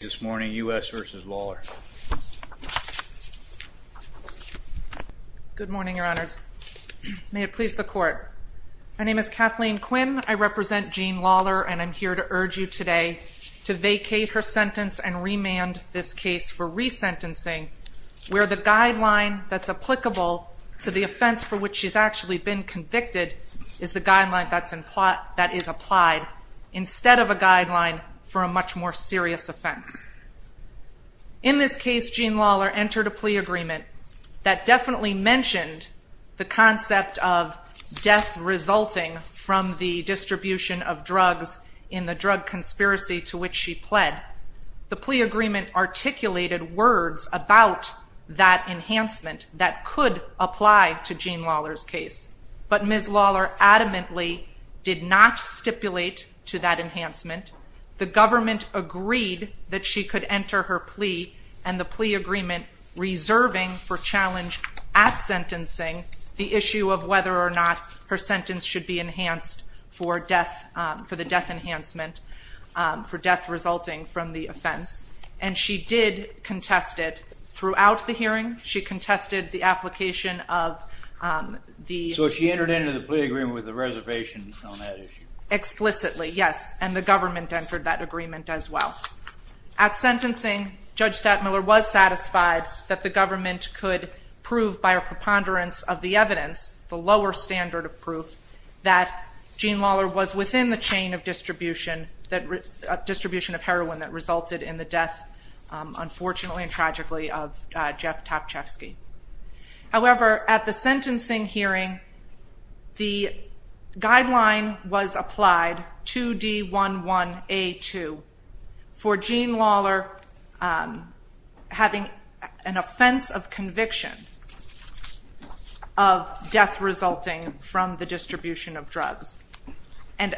Good morning, Your Honors. May it please the Court. My name is Kathleen Quinn. I represent Jean Lawler and I'm here to urge you today to vacate her sentence and remand this case for resentencing where the guideline that's applicable to the offense for which she's actually been convicted is the guideline that is applied instead of a guideline for a much more serious offense. In this case, Jean Lawler entered a plea agreement that definitely mentioned the concept of death resulting from the distribution of drugs in the drug conspiracy to which she pled. The plea agreement articulated words about that enhancement that could apply to Jean Lawler's case, but Ms. Lawler adamantly did not stipulate to that enhancement. The government agreed that she could enter her plea and the plea agreement reserving for challenge at sentencing the issue of whether or not her sentence should be enhanced for death, for the death enhancement, for death resulting from the offense. And she did contest it throughout the hearing. She contested the application of the... So she entered into the plea agreement with a reservation on that issue? Explicitly, yes. And the government entered that agreement as well. At sentencing, Judge Stattmiller was satisfied that the government could prove by a preponderance of the evidence, the lower standard of proof, that Jean Lawler was within the chain of distribution of heroin that resulted in the death, unfortunately and tragically, of Jeff Topczewski. However, at the sentencing hearing, the guideline was applied 2D11A2 for Jean Lawler having an offense of conviction of death resulting from the distribution of drugs. And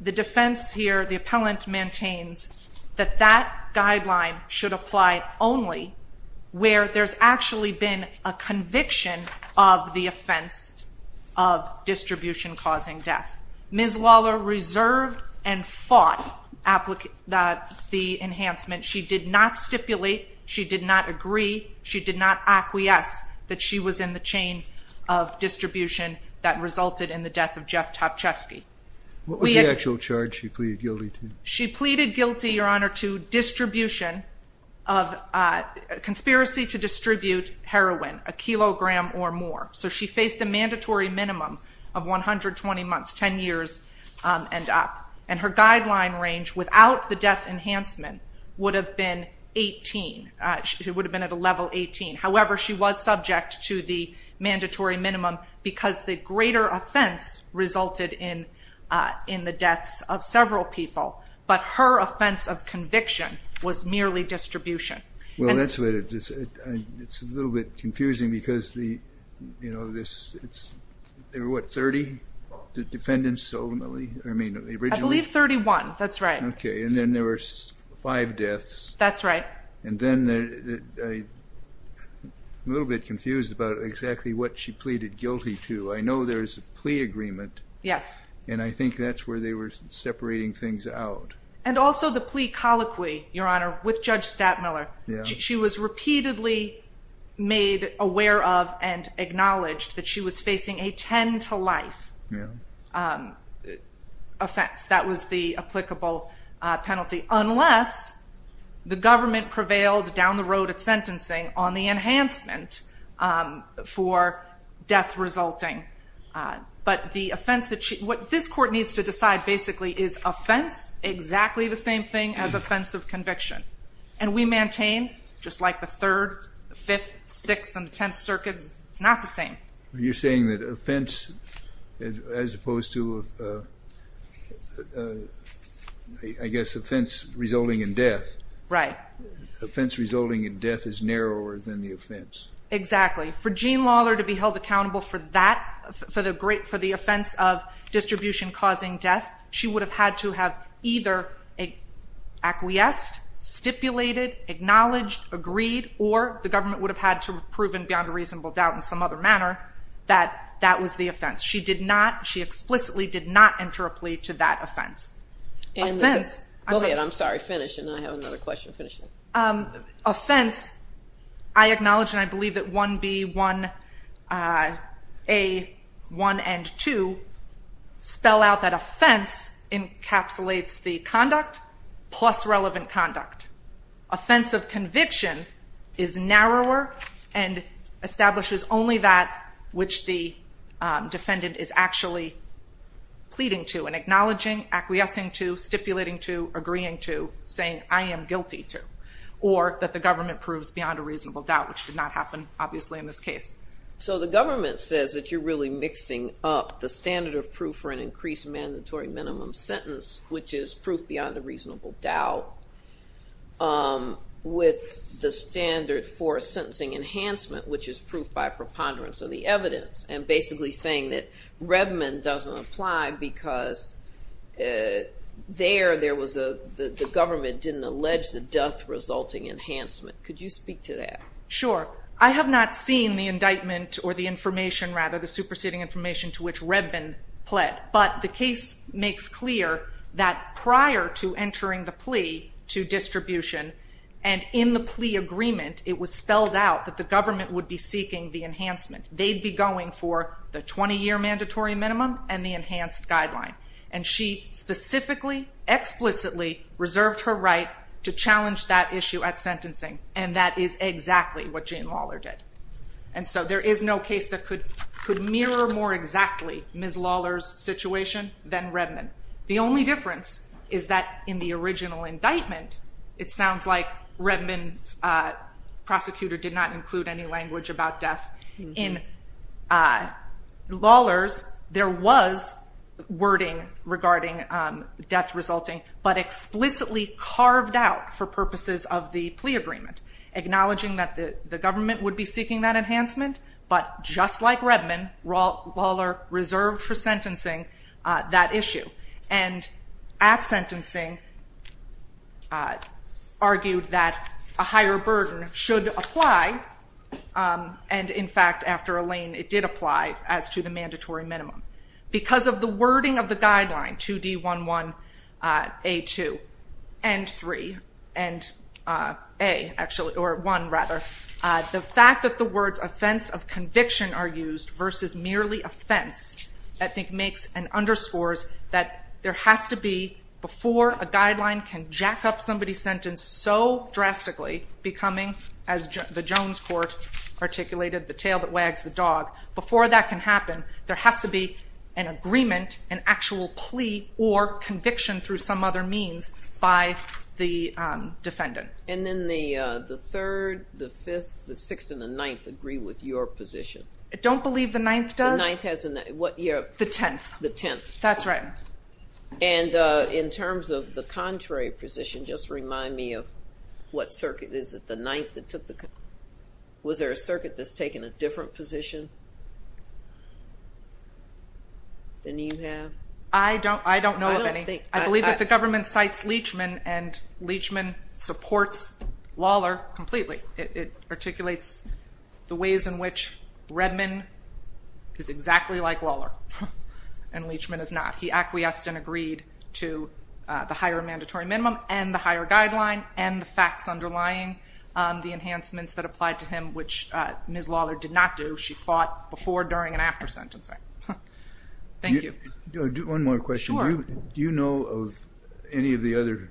the defense here, the appellant maintains that that guideline should apply only where there's actually been a conviction of the offense of distribution causing death. Ms. Lawler reserved and fought the enhancement. She did not stipulate. She did not agree. She did not acquiesce that she was in the chain of distribution that resulted in the death of Jeff Topczewski. What was the actual charge she pleaded guilty to? She pleaded guilty, Your Honor, to distribution of, conspiracy to distribute heroin, a kilogram or more. So she faced a mandatory minimum of 120 months, 10 years and up. And her guideline range without the death enhancement would have been 18. She would have been at a level 18. However, she was subject to the mandatory minimum because the greater offense resulted in the deaths of several people. But her offense of conviction was merely distribution. Well, that's what it is. It's a little bit confusing because the, you know, this, it's, there were, what, 30 defendants ultimately? I mean, originally? I believe 31. That's right. Okay. And then there were five deaths. That's right. And then I'm a little bit confused about exactly what she pleaded guilty to. I know there's a plea agreement. Yes. And I think that's where they were separating things out. And also the plea colloquy, Your Honor, with Judge Stattmiller. She was repeatedly made aware of and acknowledged that she was facing a 10 to life offense. That was the applicable penalty, unless the government prevailed down the road at sentencing on the enhancement for death resulting. But the offense that she, what this court needs to decide basically is offense, exactly the same thing as offense of conviction. And we maintain, just like the 3rd, the 5th, 6th, and the 10th circuits, it's not the same. You're saying that offense, as opposed to, I guess, offense resulting in death. Right. Offense resulting in death is narrower than the offense. Exactly. For Jean Lawler to be held accountable for that, for the offense of distribution causing death, she would have had to have either acquiesced, stipulated, acknowledged, agreed, or the government would have had to have proven beyond a reasonable doubt in some other manner that that was the offense. She did not, she explicitly did not enter a plea to that offense. Offense. Go ahead, I'm sorry, finish, and I have another question. Finish it. Offense, I acknowledge and I believe that 1B, 1A, 1 and 2 spell out that offense encapsulates the conduct plus relevant conduct. Offense of conviction is narrower and establishes only that which the defendant is actually pleading to and acknowledging, acquiescing to, stipulating to, agreeing to, saying, I am guilty to, or that the government proves beyond a reasonable doubt, which did not happen, obviously, in this case. So the government says that you're really mixing up the standard of proof for an increased mandatory minimum sentence, which is proof beyond a reasonable doubt, with the standard for a sentencing enhancement, which is proof by preponderance of the evidence, and basically saying that Redman doesn't apply because there, there was a, the government didn't allege the death-resulting enhancement. Could you speak to that? Sure. I have not seen the indictment or the information, rather, the superseding information to which Redman pled, but the case makes clear that prior to entering the plea to distribution and in the plea agreement, it was spelled out that the government would be seeking the enhancement. They'd be going for the 20-year mandatory minimum and the enhanced guideline. And she specifically, explicitly reserved her right to challenge that issue at sentencing, and that is exactly what Jane Lawler did. And so there is no case that could, could mirror more exactly Ms. Lawler's situation than Redman. The only difference is that in the original indictment, it sounds like Redman's prosecutor did not include any language about death. In Lawler's, there was wording regarding death-resulting, but explicitly carved out for purposes of the plea agreement, acknowledging that the government would be seeking that enhancement, but just like Redman, Lawler reserved for sentencing that issue. And at the same time, argued that a higher burden should apply. And in fact, after Elaine, it did apply as to the mandatory minimum. Because of the wording of the guideline, 2D11A2 and 3, and A, actually, or 1, rather, the fact that the words offense of conviction are used versus merely offense, I think makes and underscores that there has to be, before a guideline can jack up somebody's sentence so drastically, becoming, as the Jones court articulated, the tail that wags the dog, before that can happen, there has to be an agreement, an actual plea, or conviction through some other means by the defendant. And then the third, the fifth, the sixth, and the ninth agree with your position? I don't believe the ninth does. The ninth has a, what year? The tenth. The tenth. That's right. And in terms of the contrary position, just remind me of what circuit is it, the ninth that took the, was there a circuit that's taken a different position than you have? I don't know of any. I believe that the government cites Leachman, and Leachman supports Lawler completely. It articulates the ways in which Redman is exactly like Lawler, and Leachman is not. He acquiesced and agreed to the higher mandatory minimum, and the higher guideline, and the facts underlying the enhancements that applied to him, which Ms. Lawler did not do. She fought before, during, and after sentencing. Thank you. One more question. Sure. Do you know of any of the other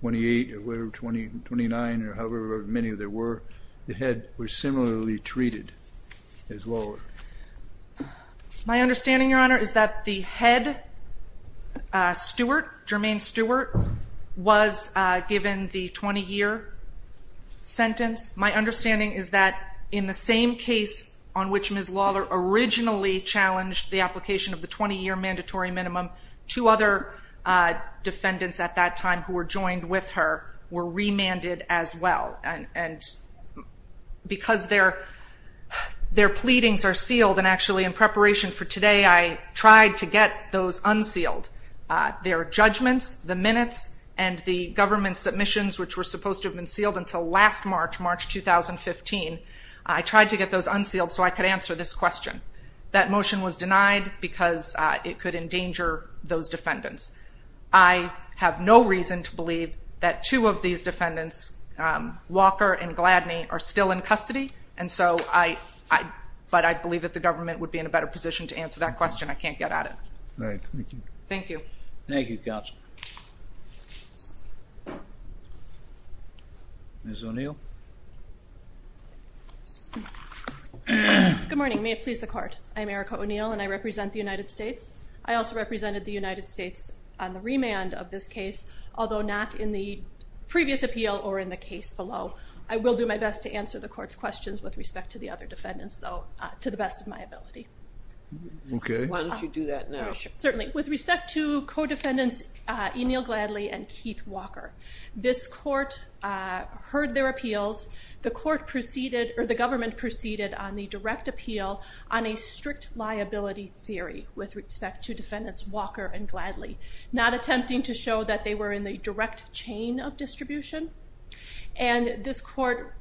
28, or 29, or however many there were, that were similarly treated as Lawler? My understanding, Your Honor, is that the head, Stewart, Jermaine Stewart, was given the 20-year sentence. My understanding is that in the same case on which Ms. Lawler originally challenged the application of the 20-year mandatory minimum, two other defendants at that time who were joined with her were remanded as well, and because their pleadings are sealed, and actually in preparation for today, I tried to get those unsealed. Their judgments, the minutes, and the government submissions, which were supposed to have been sealed until last March, March 2015, I tried to get those unsealed so I could answer this question. That motion was denied because it could endanger those defendants. I have no reason to believe that two of these defendants, Walker and Gladney, are still in custody, and so I, but I believe that the government would be in a better position to answer that question. I can't get at it. Thank you. Thank you. Thank you, Counsel. Ms. O'Neill. Good morning. May it please the Court. I'm Erica O'Neill, and I represent the United States. I also represented the United States on the remand of this case, although not in the previous appeal or in the case below. I will do my best to answer the Court's questions with respect to the other defendants, though, to the best of my ability. Okay. Why don't you do that now? Certainly. With respect to co-defendants O'Neill Gladley and Keith Walker, this Court heard their appeals. The Court proceeded, or the government proceeded on the direct appeal on a strict liability theory with respect to defendants Walker and Gladley, not attempting to show that they were in the direct chain of distribution. And this Court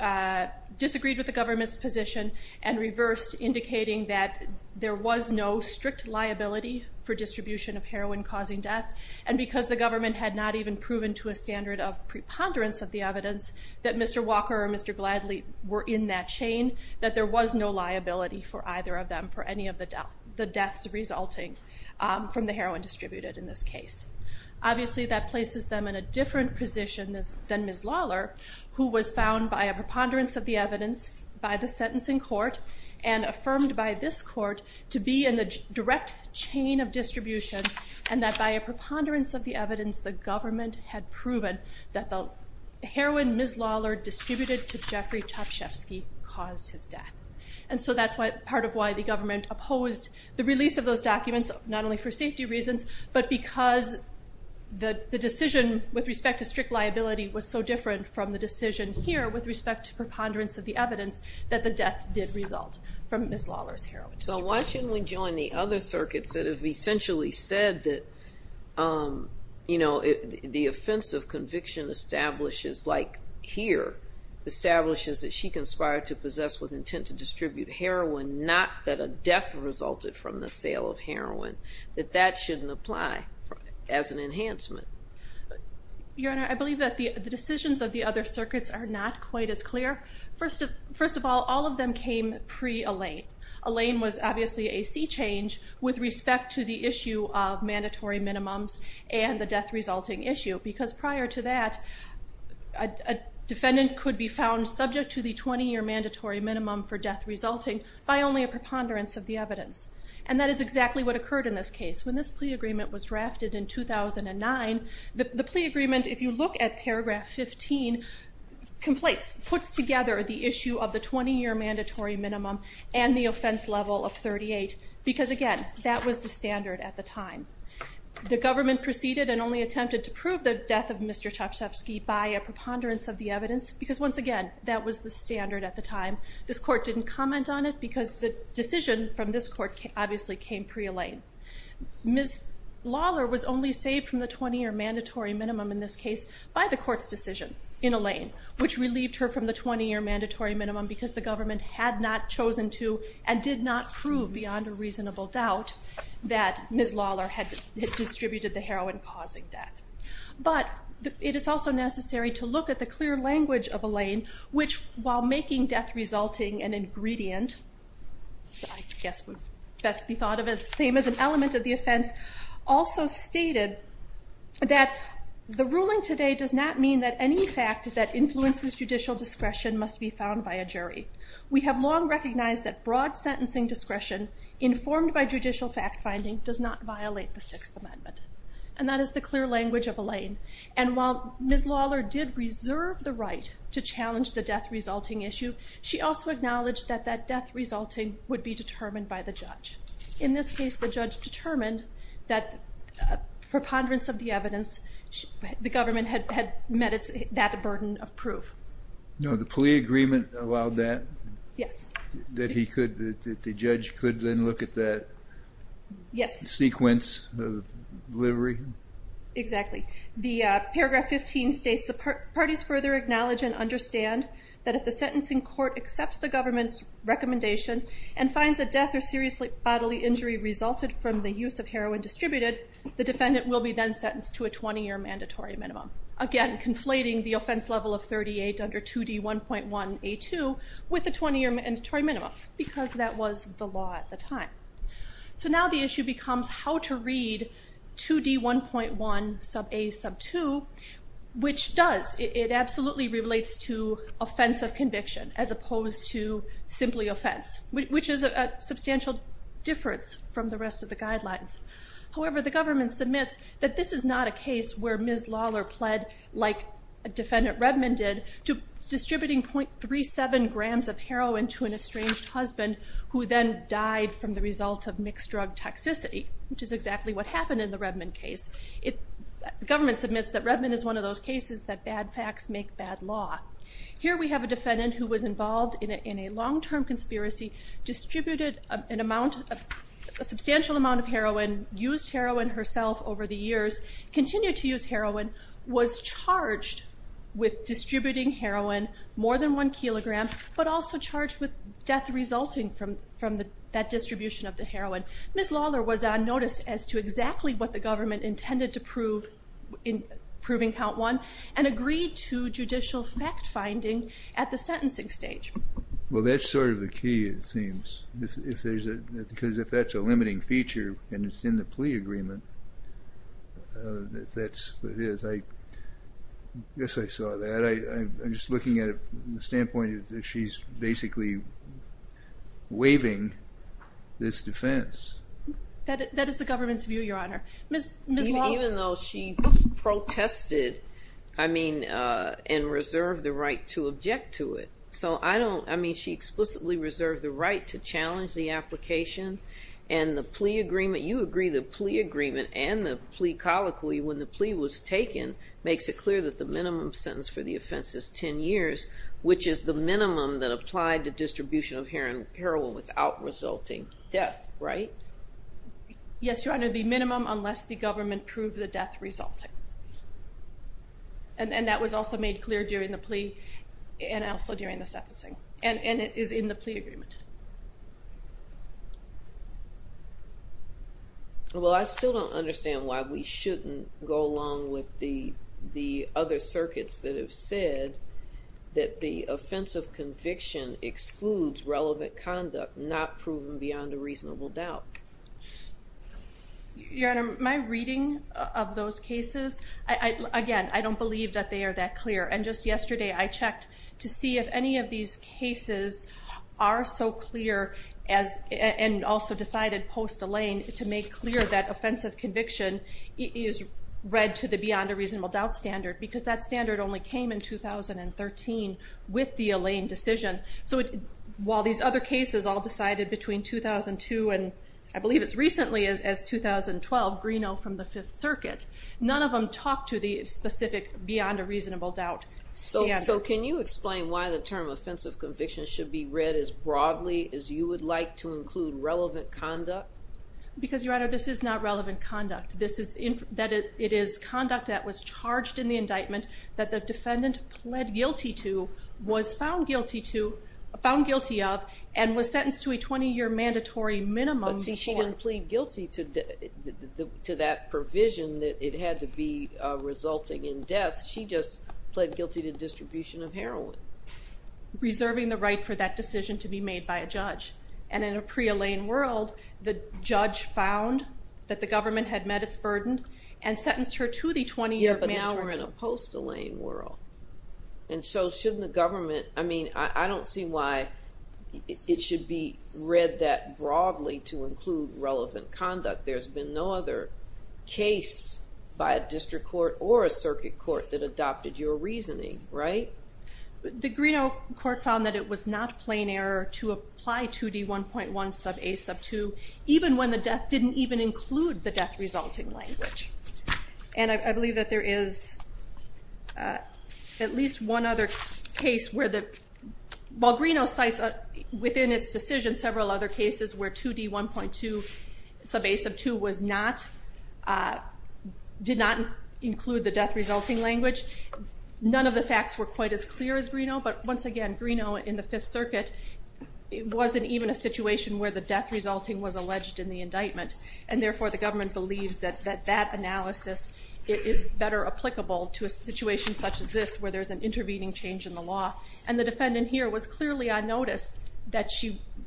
disagreed with the government's position and reversed, indicating that there was no strict liability for distribution of heroin causing death, and because the government had not even proven to a standard of preponderance of the evidence that Mr. Walker or Mr. Gladley were in that chain, that there was no liability for either of them for any of the deaths resulting from the heroin distributed in this case. Obviously, that places them in a different position than Ms. Lawler, who was found by a preponderance of the evidence, by the sentencing court, and affirmed by this Court to be in the direct chain of distribution, and that by a preponderance of the evidence, the government had proven that the heroin Ms. Lawler distributed to Jeffrey Topshefsky caused his death. And so that's part of why the government opposed the release of those documents, not only for safety reasons, but because the decision with respect to strict liability was so different from the decision here with respect to preponderance of the evidence that the death did result from Ms. Lawler's heroin distribution. So why shouldn't we join the other circuits that have essentially said that, you know, the offense of conviction establishes, like here, establishes that she conspired to possess with intent to distribute heroin, not that a death resulted from the sale of heroin, that that shouldn't apply as an enhancement? Your Honor, I believe that the decisions of the other circuits are not quite as clear. First of all, all of them came pre-Elaine. Elaine was obviously a sea change with respect to the issue of mandatory minimums and the death resulting issue, because prior to that, a defendant could be found subject to the 20-year mandatory minimum for death resulting by only a preponderance of the evidence. And that is exactly what occurred in this case. When this plea agreement was drafted in 2009, the plea agreement, if you look at paragraph 15, puts together the issue of the 20-year mandatory minimum and the offense level of 38, because again, that was the standard at the time. The government proceeded and only attempted to prove the death of Mr. Tchaikovsky by a preponderance of the evidence, because once again, that was the standard at the time. This court didn't comment on it, because the decision from this court obviously came pre-Elaine. Ms. Lawler was only saved from the 20-year mandatory minimum in this case by the court's decision in Elaine, which relieved her from the 20-year mandatory minimum because the government had not chosen to and did not prove beyond a reasonable doubt that Ms. Lawler had distributed the heroin causing death. But it is also necessary to look at the clear language of Elaine, which while making death resulting an ingredient, I guess would best be thought of as the same as an element of the offense, also stated that the ruling today does not mean that any fact that influences judicial discretion must be found by a jury. We have long recognized that broad sentencing discretion informed by judicial fact-finding does not violate the Sixth Amendment. And that is the clear language of Elaine. And while Ms. Lawler did reserve the right to challenge the death resulting issue, she also acknowledged that that death resulting would be determined by the judge. In this case, the judge determined that preponderance of the evidence, the government had met that burden of proof. No, the plea agreement allowed that? Yes. That the judge could then look at that sequence of delivery? Exactly. Paragraph 15 states, the parties further acknowledge and understand that if the sentencing court accepts the government's recommendation and finds that death or serious bodily injury resulted from the use of heroin distributed, the defendant will be then sentenced to a 20-year mandatory minimum. Again, conflating the offense level of 38 under 2D1.1A2 with a 20-year mandatory minimum, because that was the law at the time. So now the issue becomes how to read 2D1.1A2, which does, it absolutely relates to offense of conviction as opposed to simply offense, which is a substantial difference from the rest of the guidelines. However, the government submits that this is not a case where Ms. Lawler pled like a defendant Redmond did to distributing .37 grams of heroin to an estranged husband who then died from the result of mixed drug toxicity, which is exactly what happened in the Redmond case. The government submits that Redmond is one of those cases that bad facts make bad law. Here we have a defendant who was involved in a long-term conspiracy, distributed a substantial amount of heroin, used heroin herself over the years, continued to use heroin, was charged with distributing heroin, more than one kilogram, but also charged with death resulting from that distribution of the heroin. Ms. Lawler was on notice as to exactly what the government intended to prove in proving count one, and agreed to judicial fact-finding at the sentencing stage. Well, that's sort of the key, it seems, because if that's a limiting feature and it's in the plea agreement, that's what it is. I guess I saw that. I'm just looking at it from the standpoint that she's basically waiving this defense. That is the government's view, Your Honor. Even though she protested and reserved the right to object to it. So I don't, I mean, she explicitly reserved the right to challenge the application and the plea agreement, you agree the plea agreement and the plea colloquy when the plea was taken makes it clear that the minimum sentence for the offense is 10 years, which is the minimum that applied to distribution of heroin without resulting death, right? Yes, Your Honor, the minimum unless the government proved the death resulting. And that was also made clear during the plea and also during the sentencing, and it is in the plea agreement. Well, I still don't understand why we shouldn't go along with the other circuits that have said that the offense of conviction excludes relevant conduct not proven beyond a reasonable doubt. Your Honor, my reading of those cases, again, I don't believe that they are that clear. And just yesterday I checked to see if any of these cases are so clear and also decided post-Elaine to make clear that offense of conviction is read to the beyond a reasonable doubt standard, because that standard only came in 2013 with the Elaine decision. So while these other cases all decided between 2002 and I believe as recently as 2012, Greeno from the Fifth Circuit, none of them talk to the specific beyond a reasonable doubt standard. So can you explain why the term offense of conviction should be read as broadly as you would like to include relevant conduct? Because, Your Honor, this is not relevant conduct. This is that it is conduct that was charged in the indictment that the defendant pled guilty to, was found guilty of, and was sentenced to a 20-year mandatory minimum. But see, she didn't plead guilty to that provision that it had to be resulting in death. She just pled guilty to distribution of heroin. Reserving the right for that decision to be made by a judge. And in a pre-Elaine world, the judge found that the government had met its burden and sentenced her to the 20-year mandatory minimum. Yeah, but now we're in a post-Elaine world. And so shouldn't the government, I mean, I don't see why it should be read that broadly to include relevant conduct. There's been no other case by a district court or a circuit court that adopted your reasoning, right? The Greeno court found that it was not plain error to apply 2D1.1 sub A sub 2 even when the death didn't even include the death-resulting language. And I believe that there is at least one other case where the, while Greeno cites within its decision several other cases where 2D1.2 sub A sub 2 was not, did not include the death-resulting language, none of the facts were quite as clear as Greeno. But once again, Greeno in the Fifth Circuit, it wasn't even a situation where the death-resulting was alleged in the indictment. And therefore, the government believes that that analysis is better applicable to a situation such as this where there's an intervening change in the law. And the defendant here was clearly on notice that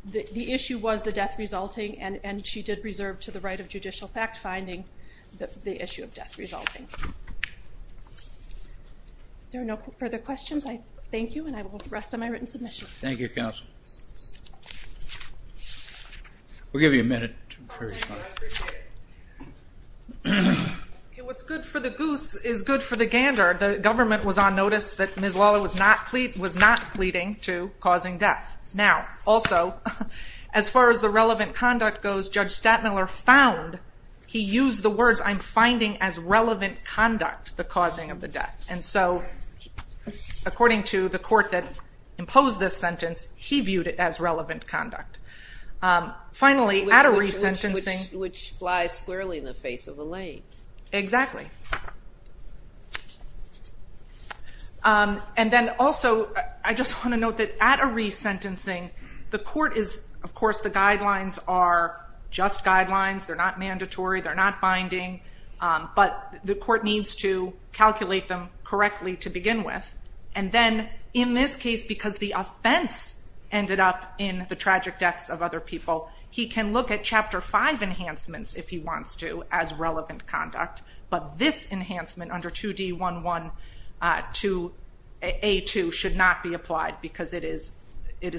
the issue was the death-resulting and she did reserve to the right of judicial fact-finding the issue of death-resulting. There are no further questions? Thank you, and I will rest on my written submission. Thank you, counsel. We'll give you a minute. I appreciate it. What's good for the goose is good for the gander. The government was on notice that Ms. Lawler was not pleading to causing death. Now, also, as far as the relevant conduct goes, Judge Stadtmiller found he used the words, I'm finding as relevant conduct the causing of the death. And so, according to the court that imposed this sentence, he viewed it as relevant conduct. Finally, at a resentencing... Which flies squarely in the face of a lake. Exactly. And then, also, I just want to note that at a resentencing, the court is, of course, the guidelines are just guidelines. They're not mandatory. They're not binding. But the court needs to calculate them correctly to begin with. And then, in this case, because the offense ended up in the tragic deaths of other people, he can look at Chapter 5 enhancements, if he wants to, as relevant conduct. But this enhancement under 2D11-A2 should not be applied because it is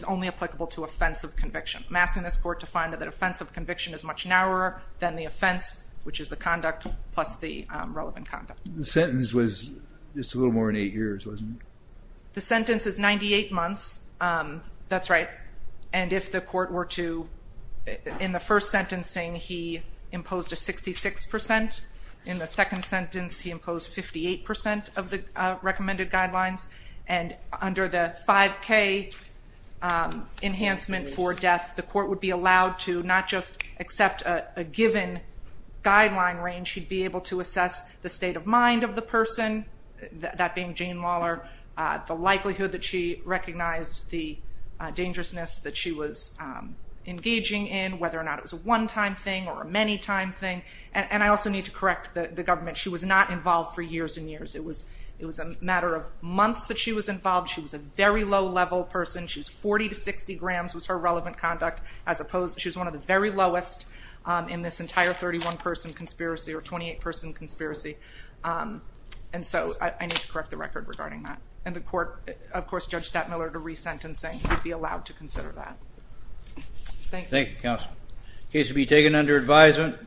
only applicable to offensive conviction. I'm asking this court to find that offensive conviction is much narrower than the offense, which is the conduct, plus the relevant conduct. The sentence was just a little more than eight years, wasn't it? The sentence is 98 months. That's right. And if the court were to, in the first sentencing, he imposed a 66%. In the second sentence, he imposed 58% of the recommended guidelines. And under the 5K enhancement for death, the court would be allowed to not just accept a given guideline range. He'd be able to assess the state of mind of the person, that being Jane Lawler, the likelihood that she recognized the dangerousness that she was engaging in, whether or not it was a one-time thing or a many-time thing. And I also need to correct the government. She was not involved for years and years. It was a matter of months that she was involved. She was a very low-level person. She was 40 to 60 grams was her relevant conduct. She was one of the very lowest in this entire 31-person conspiracy or 28-person conspiracy. And so I need to correct the record regarding that. And the court, of course, Judge Stettmiller, to resentencing, would be allowed to consider that. Thank you. Thank you, counsel. Case will be taken under advisement.